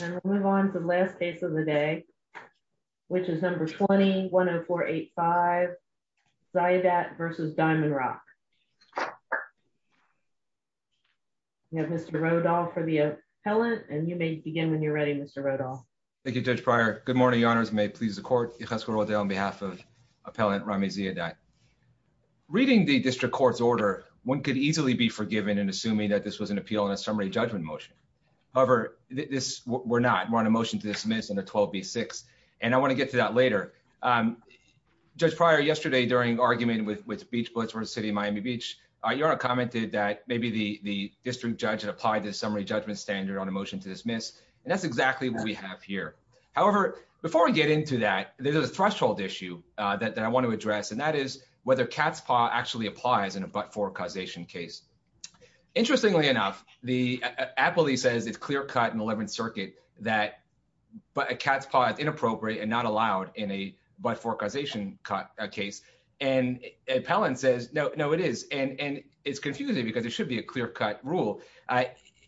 and we'll move on to the last case of the day which is number 20-10485 Ziyadat versus Diamondrock we have Mr. Rodolphe for the appellant and you may begin when you're ready Mr. Rodolphe. Thank you Judge Pryor. Good morning Your Honors. May it please the court. Yigas Korode on behalf of appellant Rami Ziyadat. Reading the district court's order one could easily be forgiven in assuming that this was an appeal in a summary judgment motion. However, we're not. We're on a motion to dismiss under 12b-6 and I want to get to that later. Judge Pryor, yesterday during argument with Beach Blitzworth City of Miami Beach, Your Honor commented that maybe the district judge had applied the summary judgment standard on a motion to dismiss and that's exactly what we have here. However, before we get into that there's a threshold issue that I want to address and that is whether cat's paw actually applies in a but-for causation case. Interestingly enough, the appellee says it's clear-cut in the 11th circuit that a cat's paw is inappropriate and not allowed in a but-for causation case and appellant says no it is and it's confusing because it should be a clear-cut rule.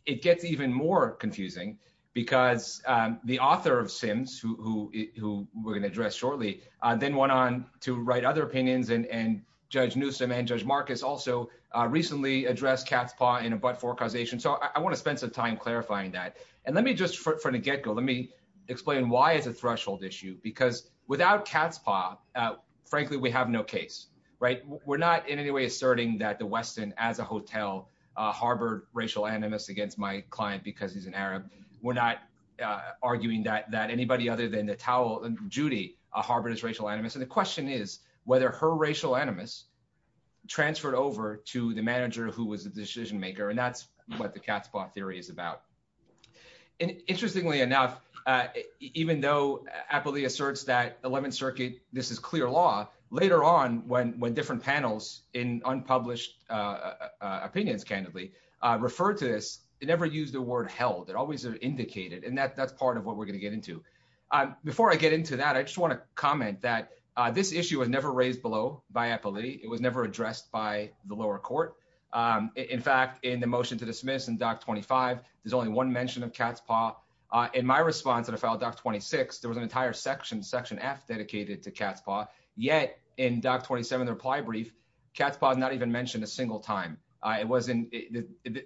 It gets even more confusing because the author of Sims who we're going to address shortly then went on to write other opinions and Judge Newsom and Judge Marcus also recently addressed cat's paw in a but-for causation so I want to spend some time clarifying that and let me just from the get-go let me explain why it's a threshold issue because without cat's paw, frankly we have no case, right? We're not in any way asserting that the Weston as a hotel harbored racial animus against my client because he's an Arab. We're not arguing that anybody other than the towel, Judy, harbored as racial animus and the transferred over to the manager who was the decision maker and that's what the cat's paw theory is about and interestingly enough even though appellee asserts that 11th circuit this is clear law, later on when different panels in unpublished opinions candidly referred to this they never used the word held. It always indicated and that's part of what we're going to get into. Before I get into that I just want to comment that this issue was never raised below by appellee. It was never addressed by the lower court. In fact in the motion to dismiss in doc 25 there's only one mention of cat's paw. In my response to the file doc 26 there was an entire section, section f dedicated to cat's paw yet in doc 27 the reply brief cat's paw is not even mentioned a single time. It wasn't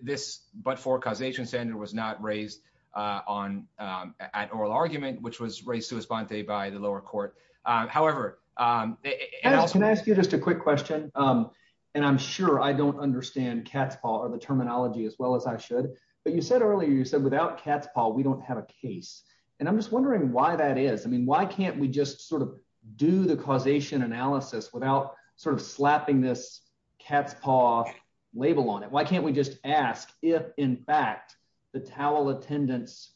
this but-for causation standard was not raised on at oral argument which was raised by the lower court. However, can I ask you just a quick question and I'm sure I don't understand cat's paw or the terminology as well as I should but you said earlier you said without cat's paw we don't have a case and I'm just wondering why that is. I mean why can't we just sort of do the causation analysis without sort of slapping this cat's paw label on it. Why can't we just ask if in fact the towel attendance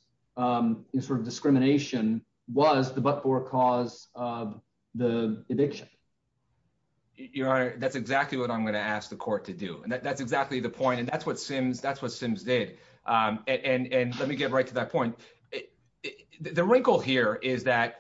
is for discrimination was the but-for cause of the eviction. Your honor that's exactly what I'm going to ask the court to do and that's exactly the point and that's what sims that's what sims did and and let me get right to that point. The wrinkle here is that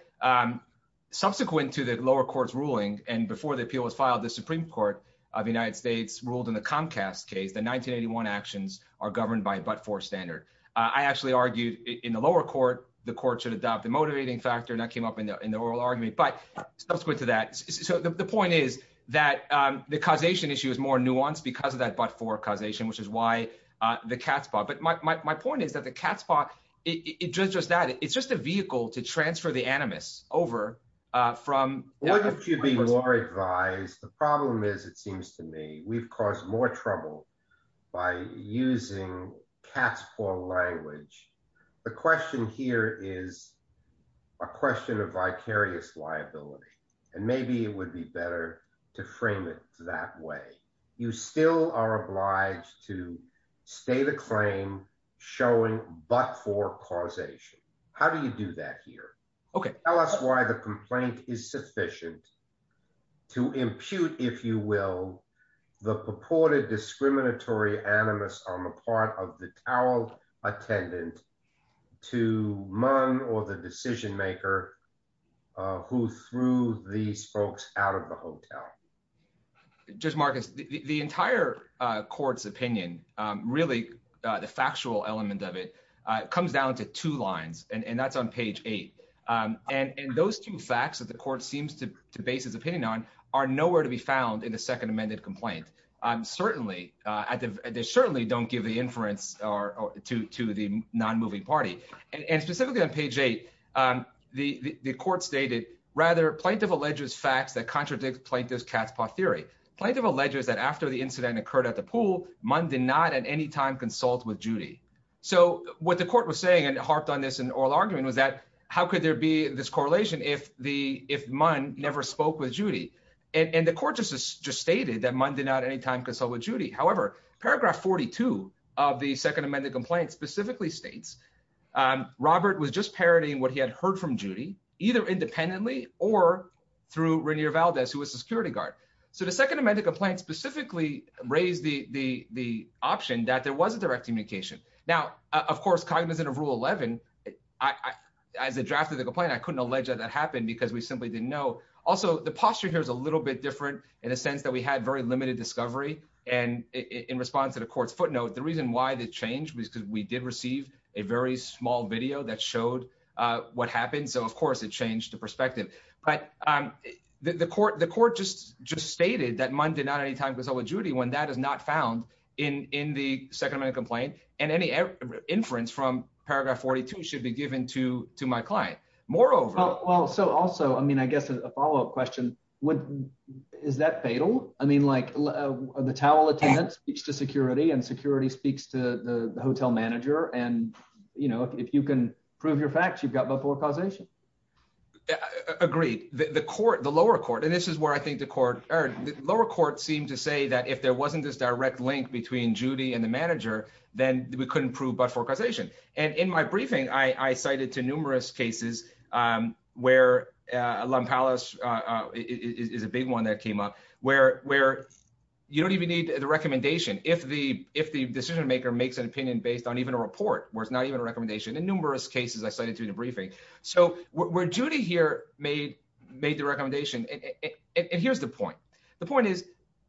subsequent to the lower court's ruling and before the appeal was filed the supreme court of the United States ruled in the Comcast case the 1981 actions are governed by a but-for standard. I actually argued in the lower court the court should adopt the motivating factor and that came up in the oral argument but subsequent to that so the point is that the causation issue is more nuanced because of that but-for causation which is why the cat's paw but my point is that the cat's paw it's just that it's just a vehicle to transfer the animus over from what if you'd be more advised the problem is it seems to me we've caused more trouble by using cat's paw language. The question here is a question of vicarious liability and maybe it would be better to frame it that way. You still are obliged to stay the claim showing but-for causation. How do you do that here? Okay tell us why the complaint is sufficient to impute if you will the purported discriminatory animus on the part of the tower attendant to Mung or the decision maker who threw these folks out of the hotel. Judge Marcus the entire court's opinion really the factual element of it comes down to two lines and that's on page eight and those two facts that the court seems to base his opinion on are nowhere to be found in the second amended complaint. They certainly don't give the inference to the non-moving party and specifically on page eight the court stated rather plaintiff alleges facts that contradict plaintiff's cat's paw theory. Plaintiff alleges that after the incident occurred at the pool Mung did not at any time consult with Judy. So what the court was saying and harped on this in oral argument was that how could there be this correlation if Mung never spoke with Judy and the court just stated that Mung did not at any time consult with Judy. However paragraph 42 of the second amended complaint specifically states Robert was just parroting what he had heard from Judy either independently or through Rainier Valdez who was the security guard. So the second amended complaint specifically raised the option that there was a direct communication. Now of course cognizant of rule 11 as a draft of the complaint I couldn't allege that that happened because we simply didn't know. Also the posture here is a little bit different in a sense that we had very limited discovery and in response to the court's footnote the reason why they changed was because we did receive a very small video that showed what happened so of course it changed the perspective. But the court just just stated that Mung did not at any time consult with Judy when that is not found in the second amendment complaint and any inference from paragraph 42 should be well so also I mean I guess a follow-up question is that fatal? I mean like the towel attendant speaks to security and security speaks to the hotel manager and you know if you can prove your facts you've got but-for-causation. Agreed the court the lower court and this is where I think the court or the lower court seemed to say that if there wasn't this direct link between Judy and the manager then we couldn't prove but-for-causation and in my briefing I cited to numerous cases where Lum Palace is a big one that came up where you don't even need the recommendation if the if the decision maker makes an opinion based on even a report where it's not even a recommendation in numerous cases I cited to the briefing. So where Judy here made the recommendation and here's the point the point is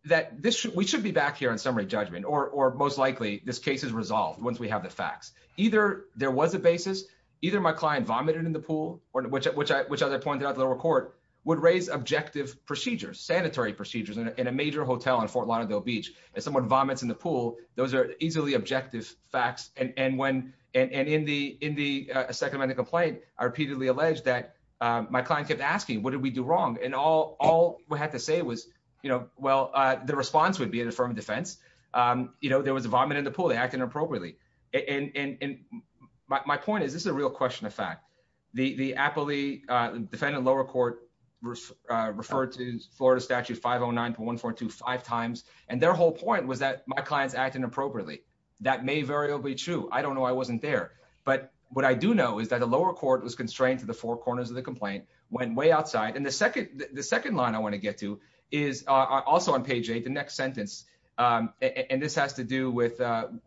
that this we should be back here on summary judgment or most likely this case is resolved once we have the facts either there was a basis either my client vomited in the pool or which which I which as I pointed out the lower court would raise objective procedures sanitary procedures in a major hotel in Fort Lauderdale Beach if someone vomits in the pool those are easily objective facts and when and in the in the second amendment complaint I repeatedly alleged that my client kept asking what did we do wrong and all all we had to say was you know well the response would be an affirmative defense you know there was a vomit in the pool acting appropriately and and my point is this is a real question of fact the the appellee defendant lower court referred to Florida statute 509.142 five times and their whole point was that my client's acting appropriately that may very well be true I don't know I wasn't there but what I do know is that the lower court was constrained to the four corners of the complaint went way outside and the second the second line I want to get to is also on page eight the next sentence and this has to do with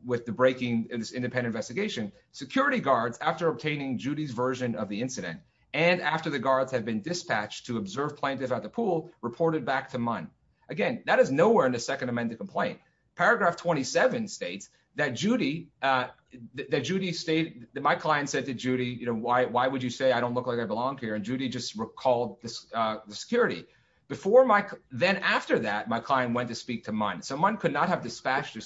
with the breaking of this independent investigation security guards after obtaining Judy's version of the incident and after the guards have been dispatched to observe plaintiff at the pool reported back to Munn again that is nowhere in the second amendment complaint paragraph 27 states that Judy that Judy stated that my client said to Judy you know why why would you say I don't look like I belong here and Judy just recalled this the security before my then after that my client went to speak to Munn someone could not have dispatched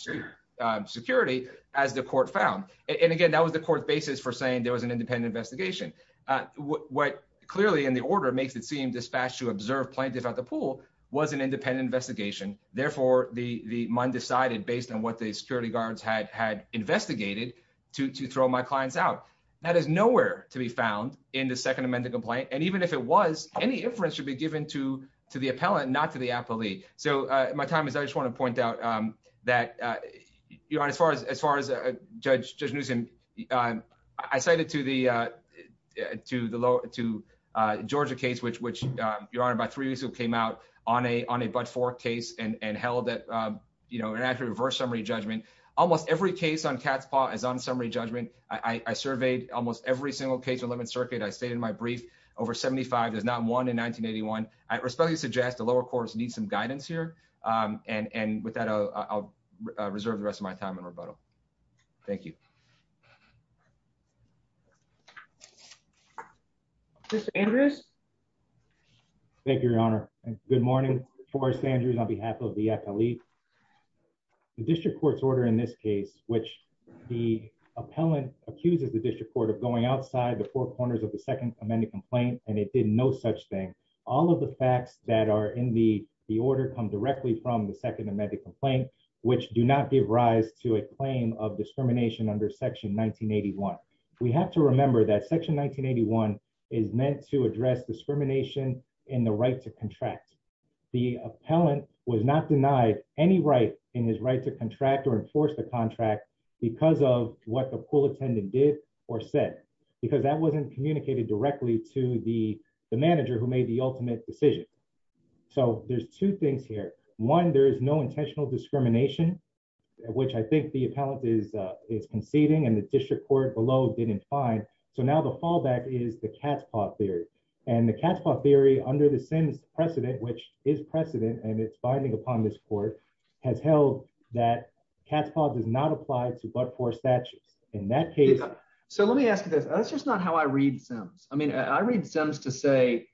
security as the court found and again that was the court's basis for saying there was an independent investigation uh what clearly in the order makes it seem dispatched to observe plaintiff at the pool was an independent investigation therefore the the Munn decided based on what the security guards had had investigated to to throw my clients out that is nowhere to be found in the second amendment complaint and even if it was any inference should be given to to the appellant not to the appellee so uh my time is I just want to point out um that uh you're on as far as as far as a judge judge news and um I cited to the uh to the lower to uh Georgia case which which um your honor about three years ago came out on a on a but for case and and held that um you know an actual reverse summary judgment almost every case on cat's paw is on summary judgment I I surveyed almost every single case 11 circuit I stayed in my brief over 75 there's not one in 1981 I and and with that I'll reserve the rest of my time in rebuttal thank you Mr. Andrews thank you your honor good morning Forrest Andrews on behalf of the appellee the district court's order in this case which the appellant accuses the district court of going outside the four corners of the second amendment complaint and it did no such thing all of the facts that are in the the order come directly from the second amendment complaint which do not give rise to a claim of discrimination under section 1981 we have to remember that section 1981 is meant to address discrimination in the right to contract the appellant was not denied any right in his right to contract or enforce the contract because of what the pool attendant did or said because that wasn't communicated directly to the the manager who made the ultimate decision so there's two things here one there is no intentional discrimination which I think the appellant is uh is conceding and the district court below didn't find so now the fallback is the cat's paw theory and the cat's paw theory under the sims precedent which is precedent and it's binding upon this court has held that cat's paw does not apply to but for statutes in that case so let me ask you this that's just not how I read sims I mean I read sims to say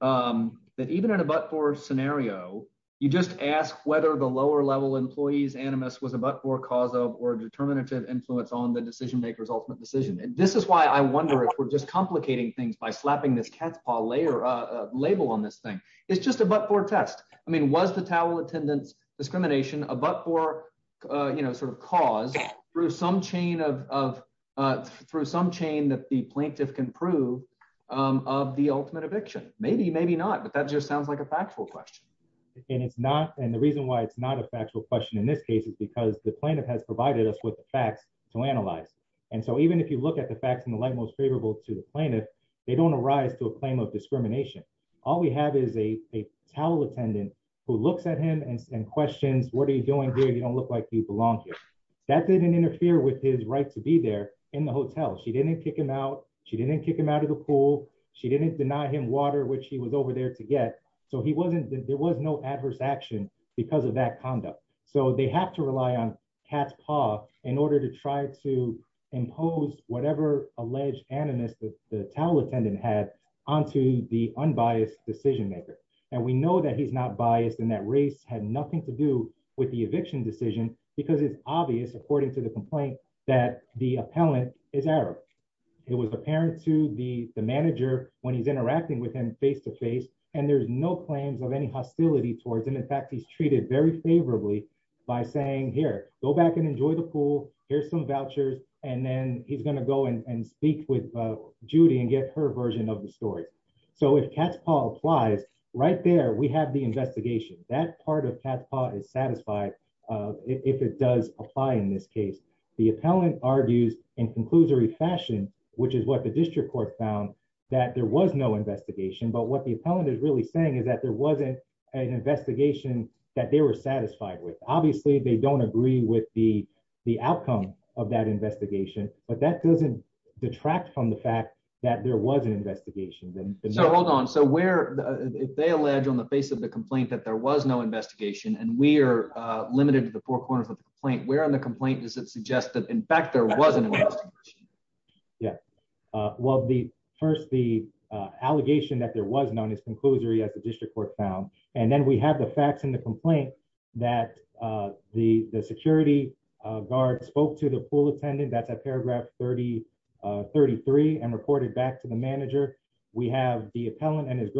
um that even in a but-for scenario you just ask whether the lower level employees animus was a but-for cause of or determinative influence on the decision maker's ultimate decision and this is why I wonder if we're just complicating things by slapping this cat's paw layer uh label on this thing it's just a but-for test I mean was the towel attendance discrimination a but-for uh you know sort of cause through some chain of through some chain that the plaintiff can prove um of the ultimate eviction maybe maybe not but that just sounds like a factual question and it's not and the reason why it's not a factual question in this case is because the plaintiff has provided us with the facts to analyze and so even if you look at the facts in the light most favorable to the plaintiff they don't arise to a claim of discrimination all we have is a a towel attendant who looks at him and questions what are you doing here you don't look like you belong here that didn't interfere with his right to be there in the hotel she didn't kick him out she didn't kick him out of the pool she didn't deny him water which he was over there to get so he wasn't there was no adverse action because of that conduct so they have to rely on cat's paw in order to try to impose whatever alleged animus that the towel attendant had onto the unbiased decision maker and we know that he's not biased and that race had nothing to do with the eviction decision because it's obvious according to the complaint that the appellant is arab it was apparent to the the manager when he's interacting with him face to face and there's no claims of any hostility towards him in fact he's treated very favorably by saying here go back and enjoy the pool here's some vouchers and then he's going to go and speak with judy and get her version of the story so if cat's paw applies right there we have the investigation that part of cat's paw is satisfied if it does apply in this case the appellant argues in conclusory fashion which is what the district court found that there was no investigation but what the appellant is really saying is that there wasn't an investigation that they were satisfied with obviously they don't agree with the the outcome of that investigation but that doesn't detract from the fact that there was an investigation then so hold on so where if they allege on the face of the complaint that there was no investigation and we are limited to the four corners of the complaint where on the complaint does it suggest that in fact there wasn't yeah uh well the first the uh allegation that there was known as conclusory as the district court found and then we have the facts in the complaint that uh the the security uh guard spoke to the pool attendant that's at paragraph 30 uh 33 and reported back to the manager we have the appellant and his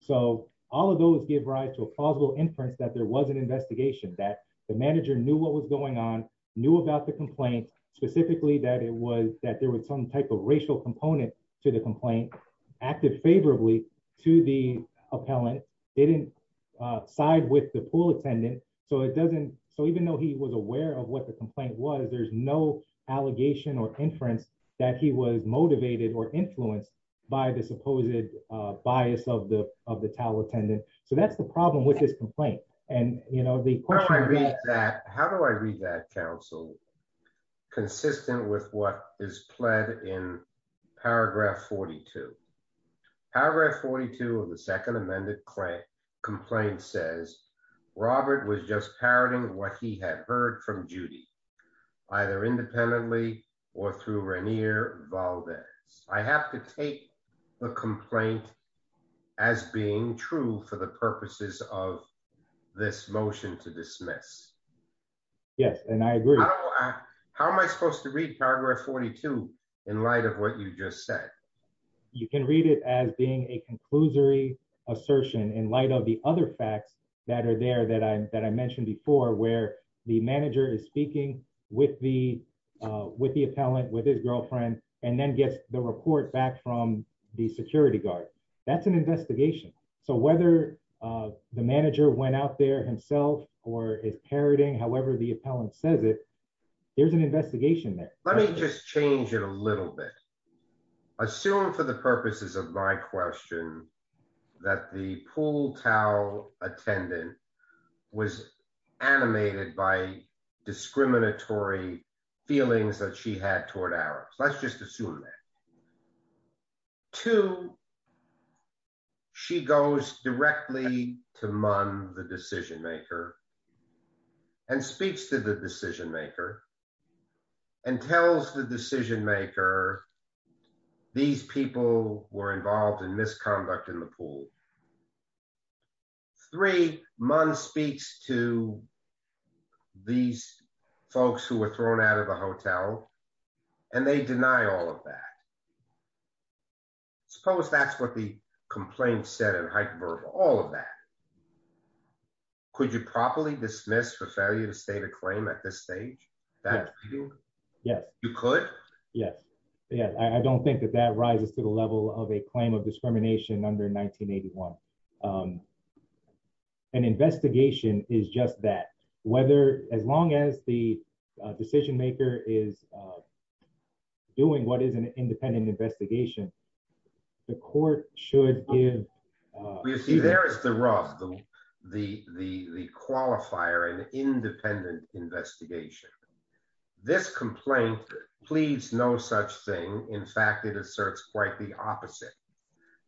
so all of those give rise to a plausible inference that there was an investigation that the manager knew what was going on knew about the complaint specifically that it was that there was some type of racial component to the complaint acted favorably to the appellant didn't uh side with the pool attendant so it doesn't so even though he was aware of what the complaint was there's no allegation or inference that he was of the towel attendant so that's the problem with this complaint and you know the point i read that how do i read that council consistent with what is pled in paragraph 42 paragraph 42 of the second amended claim complaint says robert was just parroting what he had heard from judy either independently or through rainier valdez i have to take the complaint as being true for the purposes of this motion to dismiss yes and i agree how am i supposed to read paragraph 42 in light of what you just said you can read it as being a conclusory assertion in light of the other facts that are there that i that i mentioned before where the manager is speaking with the uh with the appellant with his girlfriend and then gets the report back from the security guard that's an investigation so whether uh the manager went out there himself or is parroting however the appellant says it there's an investigation there let me just change it a little bit assume for the purposes of my question that the pool towel attendant was animated by discriminatory feelings that she had toward ours let's just assume that two she goes directly to mun the decision maker and speaks to the decision maker and tells the decision maker these people were involved in misconduct in the pool three mon speaks to these folks who were thrown out of the hotel and they deny all of that suppose that's what the complaint said in hyperbole all of that could you properly dismiss for failure to state a claim at this stage that yes you could yes yeah i don't think that that rises to the level of a claim of discrimination under 1982 um an investigation is just that whether as long as the decision maker is uh doing what is an independent investigation the court should give you see there is the rough the the the qualifier an independent investigation this complaint pleads no such thing in fact it asserts quite the opposite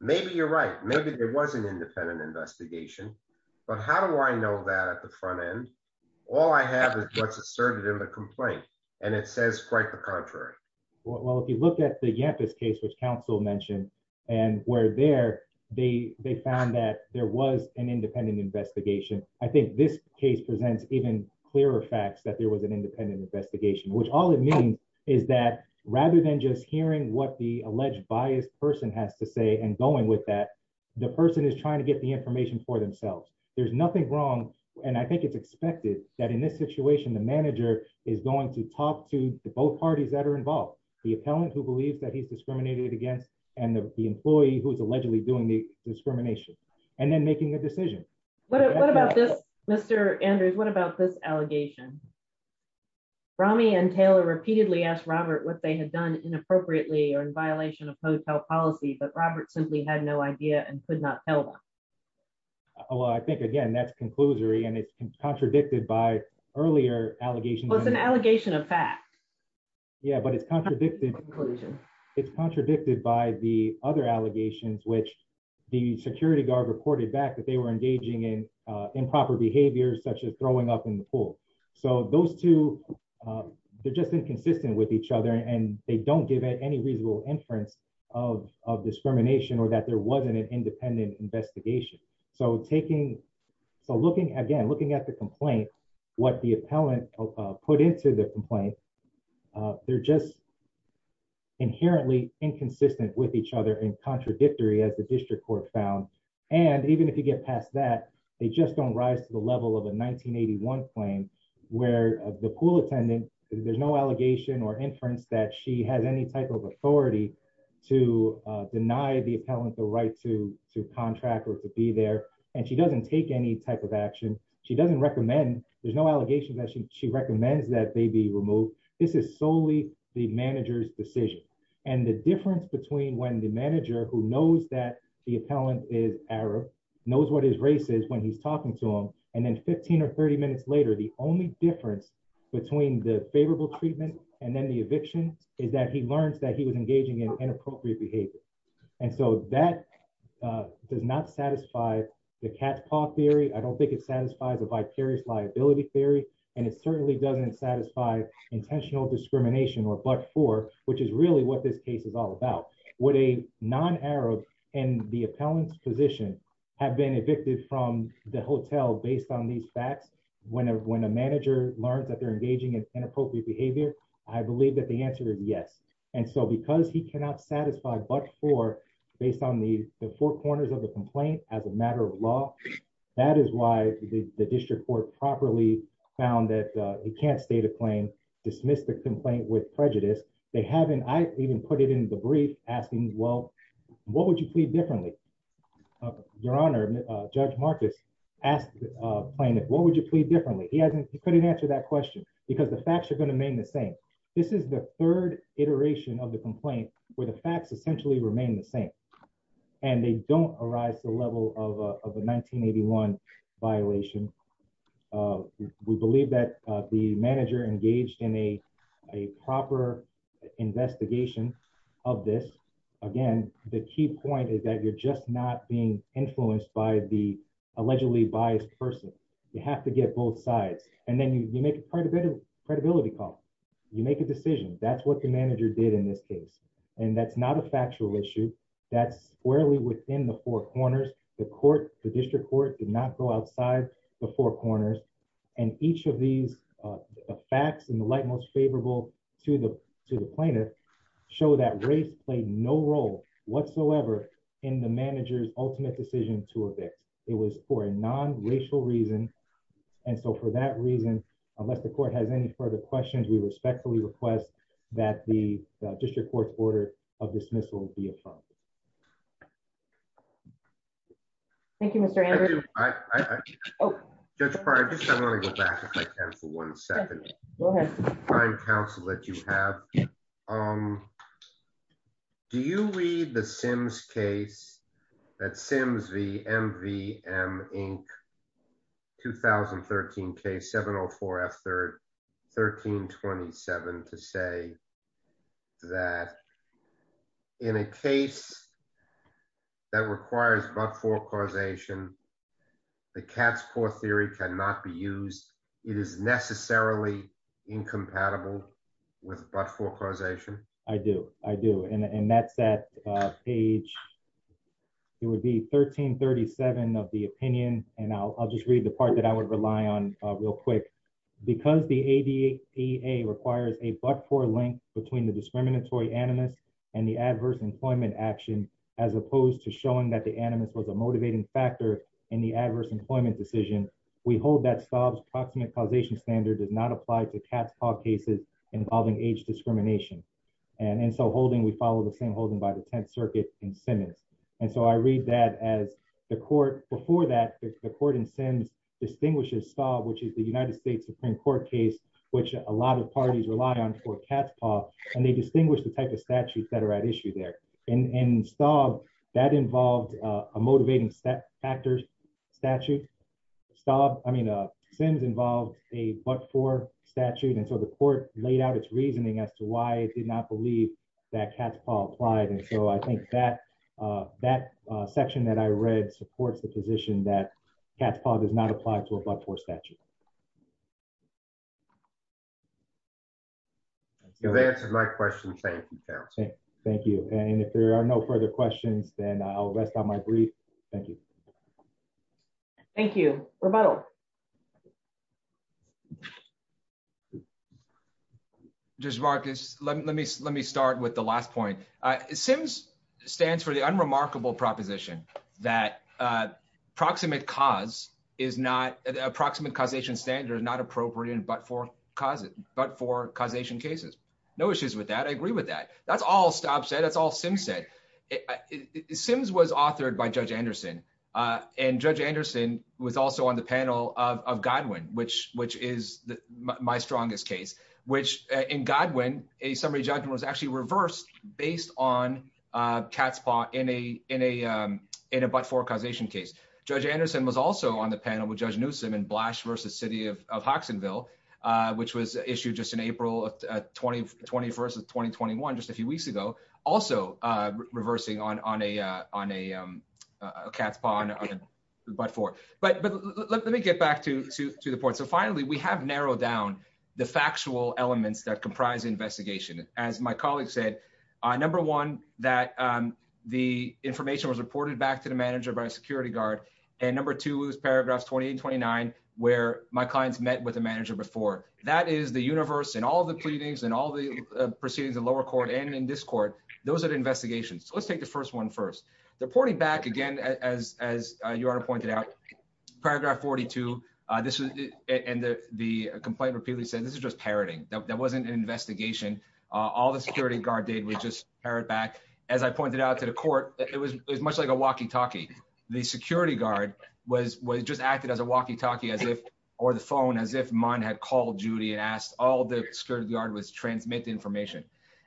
maybe you're right maybe there was an independent investigation but how do i know that at the front end all i have is what's asserted in the complaint and it says quite the contrary well if you look at the yempas case which counsel mentioned and were there they they found that there was an independent investigation i think this case presents even clearer facts that there was an independent investigation which all it means is that rather than just hearing what the alleged biased person has to say and going with that the person is trying to get the information for themselves there's nothing wrong and i think it's expected that in this situation the manager is going to talk to both parties that are involved the appellant who believes that he's discriminated against and the employee who is allegedly doing the discrimination and then making the decision what about this mr andrews what about this allegation rami and taylor repeatedly asked robert what they had done inappropriately or in violation of hotel policy but robert simply had no idea and could not tell them well i think again that's conclusory and it's contradicted by earlier allegations it's an allegation of fact yeah but it's contradicted conclusion it's contradicted by the other allegations which the security guard reported back that they were engaging in improper behaviors such as throwing up in the pool so those two they're just inconsistent with each other and they don't give it any reasonable inference of of discrimination or that there wasn't an independent investigation so taking so looking again looking at the complaint what the appellant put into the complaint they're just inherently inconsistent with each other and contradictory as the district court found and even if you get past that they just don't rise to the level of a 1981 claim where the pool attendant there's no allegation or inference that she has any type of authority to deny the appellant the right to to contract or to be there and she doesn't take any type of action she doesn't recommend there's no allegation that she recommends that they be removed this is solely the manager's decision and the difference between when the manager who knows that the appellant is arab knows what his race is when he's talking to him and then 15 or 30 minutes later the only difference between the favorable treatment and then the eviction is that he learns that he was engaging in inappropriate behavior and so that does not satisfy the cat's paw theory i don't think it satisfies a vicarious liability theory and it certainly doesn't satisfy intentional discrimination or but for which is really what this case is all about would a non-arab and the appellant's position have been evicted from the hotel based on these facts when a manager learns that they're engaging in inappropriate behavior i believe that the answer is yes and so because he cannot satisfy but for based on the the four corners of the complaint as a matter of law that is why the district court properly found that he can't state a claim dismiss the complaint with prejudice they haven't i even put it in the brief asking well what would you plead differently uh your honor uh judge marcus asked uh playing it what would you plead differently he hasn't he couldn't answer that question because the facts are going to remain the same this is the third iteration of the complaint where the facts essentially remain the same and they don't arise to the level of a 1981 violation we believe that the manager engaged in a a proper investigation of this again the key point is that you're just not being influenced by the allegedly biased person you have to get both sides and then you make a credibility credibility call you make a decision that's what the manager did in this case and that's not a factual issue that's squarely within the four corners the court the district court did not go outside the four corners and each of these uh facts in the light most favorable to the to the plaintiff show that race played no role whatsoever in the manager's ultimate decision to evict it was for a non-racial reason and so for that reason unless the court has any further questions we respectfully request that the district court's order of dismissal be affirmed thank you mr andrew i i i oh judge prior just i want to go back if i can for one second go ahead prime counsel that you have um do you read the sims case at sims v m v m inc 2013 case 704 f third 1327 to say that in a case that requires but for causation the cat's paw theory cannot be used it is necessarily incompatible with but for causation i do i do and that's that page it would be 1337 of the opinion and i'll just read the part that i would rely on real quick because the adea requires a but for link between the discriminatory animus and the adverse employment action as in the adverse employment decision we hold that staub's proximate causation standard does not apply to cat's paw cases involving age discrimination and and so holding we follow the same holding by the 10th circuit and simmons and so i read that as the court before that the court in sims distinguishes staub which is the united states supreme court case which a lot of parties rely on for cat's paw and they distinguish the type of statutes that are at issue there and and staub that involved a motivating factors statute staub i mean uh sims involved a but for statute and so the court laid out its reasoning as to why it did not believe that cat's paw applied and so i think that uh that uh section that i read supports the position that cat's paw does not apply to a but for statute you've answered my question thank you thank you and if there are no further questions then i'll rest on my brief thank you thank you rebuttal just marcus let me let me start with the last point uh sims stands for the unremarkable proposition that uh proximate cause is not approximate causation standard is not appropriate but for cause it but for causation cases no issues with that i agree with that that's all stop said that's all sim said it sims was authored by judge anderson uh and judge anderson was also on the panel of of godwin which which is the my strongest case which in godwin a summary judgment was actually reversed based on uh cat's paw in a in a um in a but for causation case judge anderson was also on the panel with judge newsom and blash versus city of of hoxsonville uh which was issued just in april 2021 just a few weeks ago also uh reversing on on a uh on a um a cat's paw but for but but let me get back to to the point so finally we have narrowed down the factual elements that comprise investigation as my colleague said uh number one that um the information was reported back to the manager by a security guard and number two is paragraphs 28 29 where my clients met with the manager before that is the universe and all the pleadings and all the proceedings in lower court and in this court those are the investigations so let's take the first one first the reporting back again as as your honor pointed out paragraph 42 uh this was and the the complaint repeatedly said this is just parroting that wasn't an investigation uh all the security guard did was just parrot back as i pointed out to the court it was as much like a walkie-talkie the security guard was was just acted as a walkie-talkie as if or the phone as if mine had called judy and asked all the security guard was transmit the information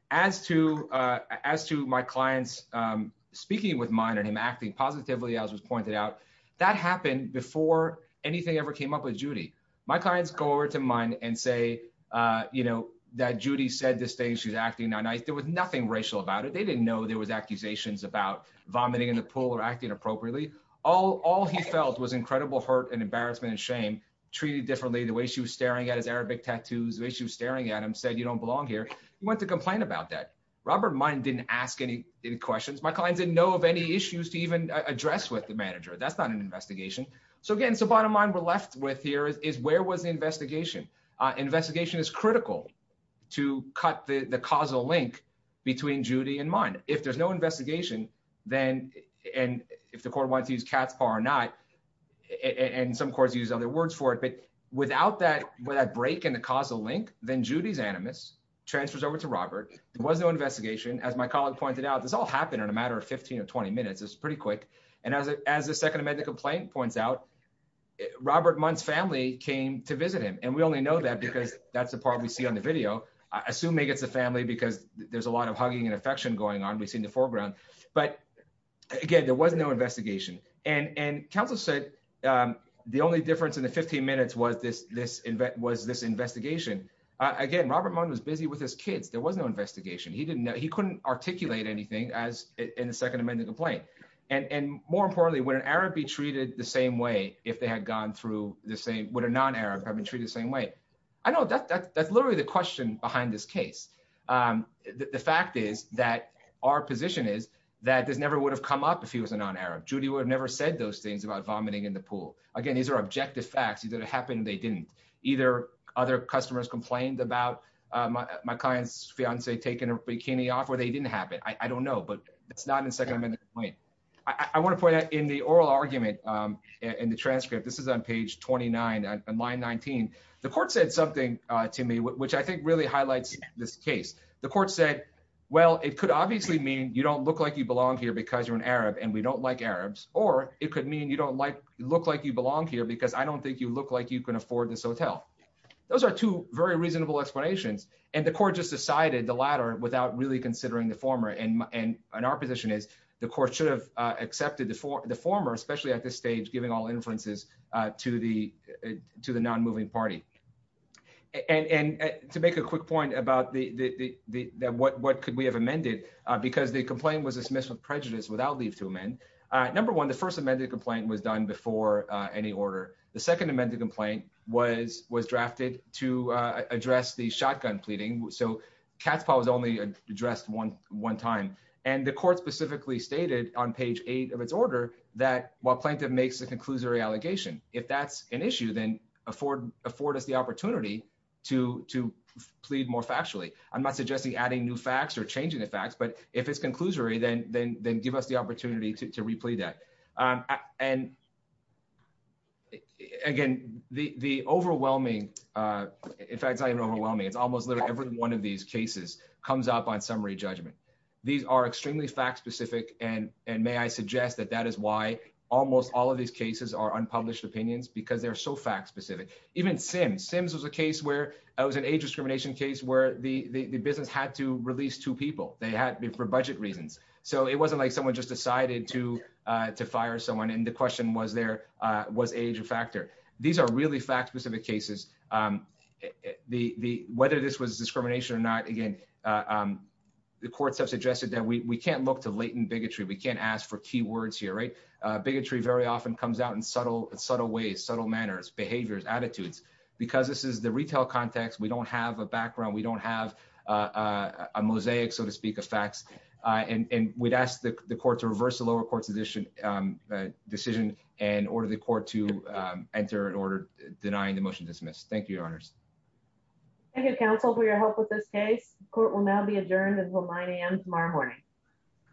as to uh as to my clients um speaking with mine and him acting positively as was pointed out that happened before anything ever came up with judy my clients go over to mine and say uh you know that judy said this day she's acting on ice there was nothing racial about it they didn't know there was accusations about vomiting in the pool or acting appropriately all all he felt was incredible hurt and embarrassment and shame treated differently the way she was adam said you don't belong here he went to complain about that robert mine didn't ask any any questions my clients didn't know of any issues to even address with the manager that's not an investigation so again so bottom line we're left with here is where was the investigation uh investigation is critical to cut the the causal link between judy and mine if there's no investigation then and if the court wants to use cat's paw or not and some courts use other words for it but without that with that break in the causal link then judy's animus transfers over to robert there was no investigation as my colleague pointed out this all happened in a matter of 15 or 20 minutes it's pretty quick and as as the second amendment complaint points out robert month's family came to visit him and we only know that because that's the part we see on the video i assume it's a family because there's a lot of hugging and affection going on we see in the foreground but again there was no investigation and and counsel said um the only difference in the 15 minutes was this this was this investigation again robert mone was busy with his kids there was no investigation he didn't know he couldn't articulate anything as in the second amendment complaint and and more importantly would an arab be treated the same way if they had gone through the same would a non-arab have been treated the same way i know that that's literally the question behind this case um the fact is that our position is that this never would have come up if he was a non-arab judy would have never said those things about vomiting in the pool again these are objective facts either it happened they didn't either other customers complained about my client's fiance taking a bikini off or they didn't happen i don't know but it's not in second amendment point i i want to point out in the oral argument um in the transcript this is on page 29 and line 19 the court said something uh to me which i think really highlights this case the court said well it could obviously mean you don't look like you don't like arabs or it could mean you don't like look like you belong here because i don't think you look like you can afford this hotel those are two very reasonable explanations and the court just decided the latter without really considering the former and and our position is the court should have uh accepted the former especially at this stage giving all inferences uh to the to the non-moving party and and to make a quick point about the the the what what could we have amended uh because the complaint was dismissed with prejudice without leave to amend number one the first amended complaint was done before uh any order the second amended complaint was was drafted to uh address the shotgun pleading so cat's paw was only addressed one one time and the court specifically stated on page eight of its order that while plaintiff makes the conclusory allegation if that's an issue then afford afford us the opportunity to to plead more factually i'm not suggesting adding new facts or changing the facts but if it's conclusory then then then give us the opportunity to to replay that um and again the the overwhelming uh in fact it's not even overwhelming it's almost literally every one of these cases comes up on summary judgment these are extremely fact-specific and and may i suggest that that is why almost all of these cases are unpublished opinions because they're so fact-specific even sims sims was a case where it was an age discrimination case where the the business had to release two people they had for budget reasons so it wasn't like someone just decided to uh to fire someone and the question was there uh was age a factor these are really fact-specific cases um the the whether this was discrimination or not again um the courts have suggested that we we can't look to latent bigotry we can't ask for key words here right uh bigotry very often comes out in subtle subtle ways subtle manners behaviors attitudes because this is the retail context we don't have a background we don't have uh a mosaic so to speak of facts uh and we'd ask the court to reverse the lower court's addition um decision and order the court to um enter an order denying the motion dismissed thank you your honors thank you counsel for your help with this case court will now be adjourned until 9 a.m tomorrow morning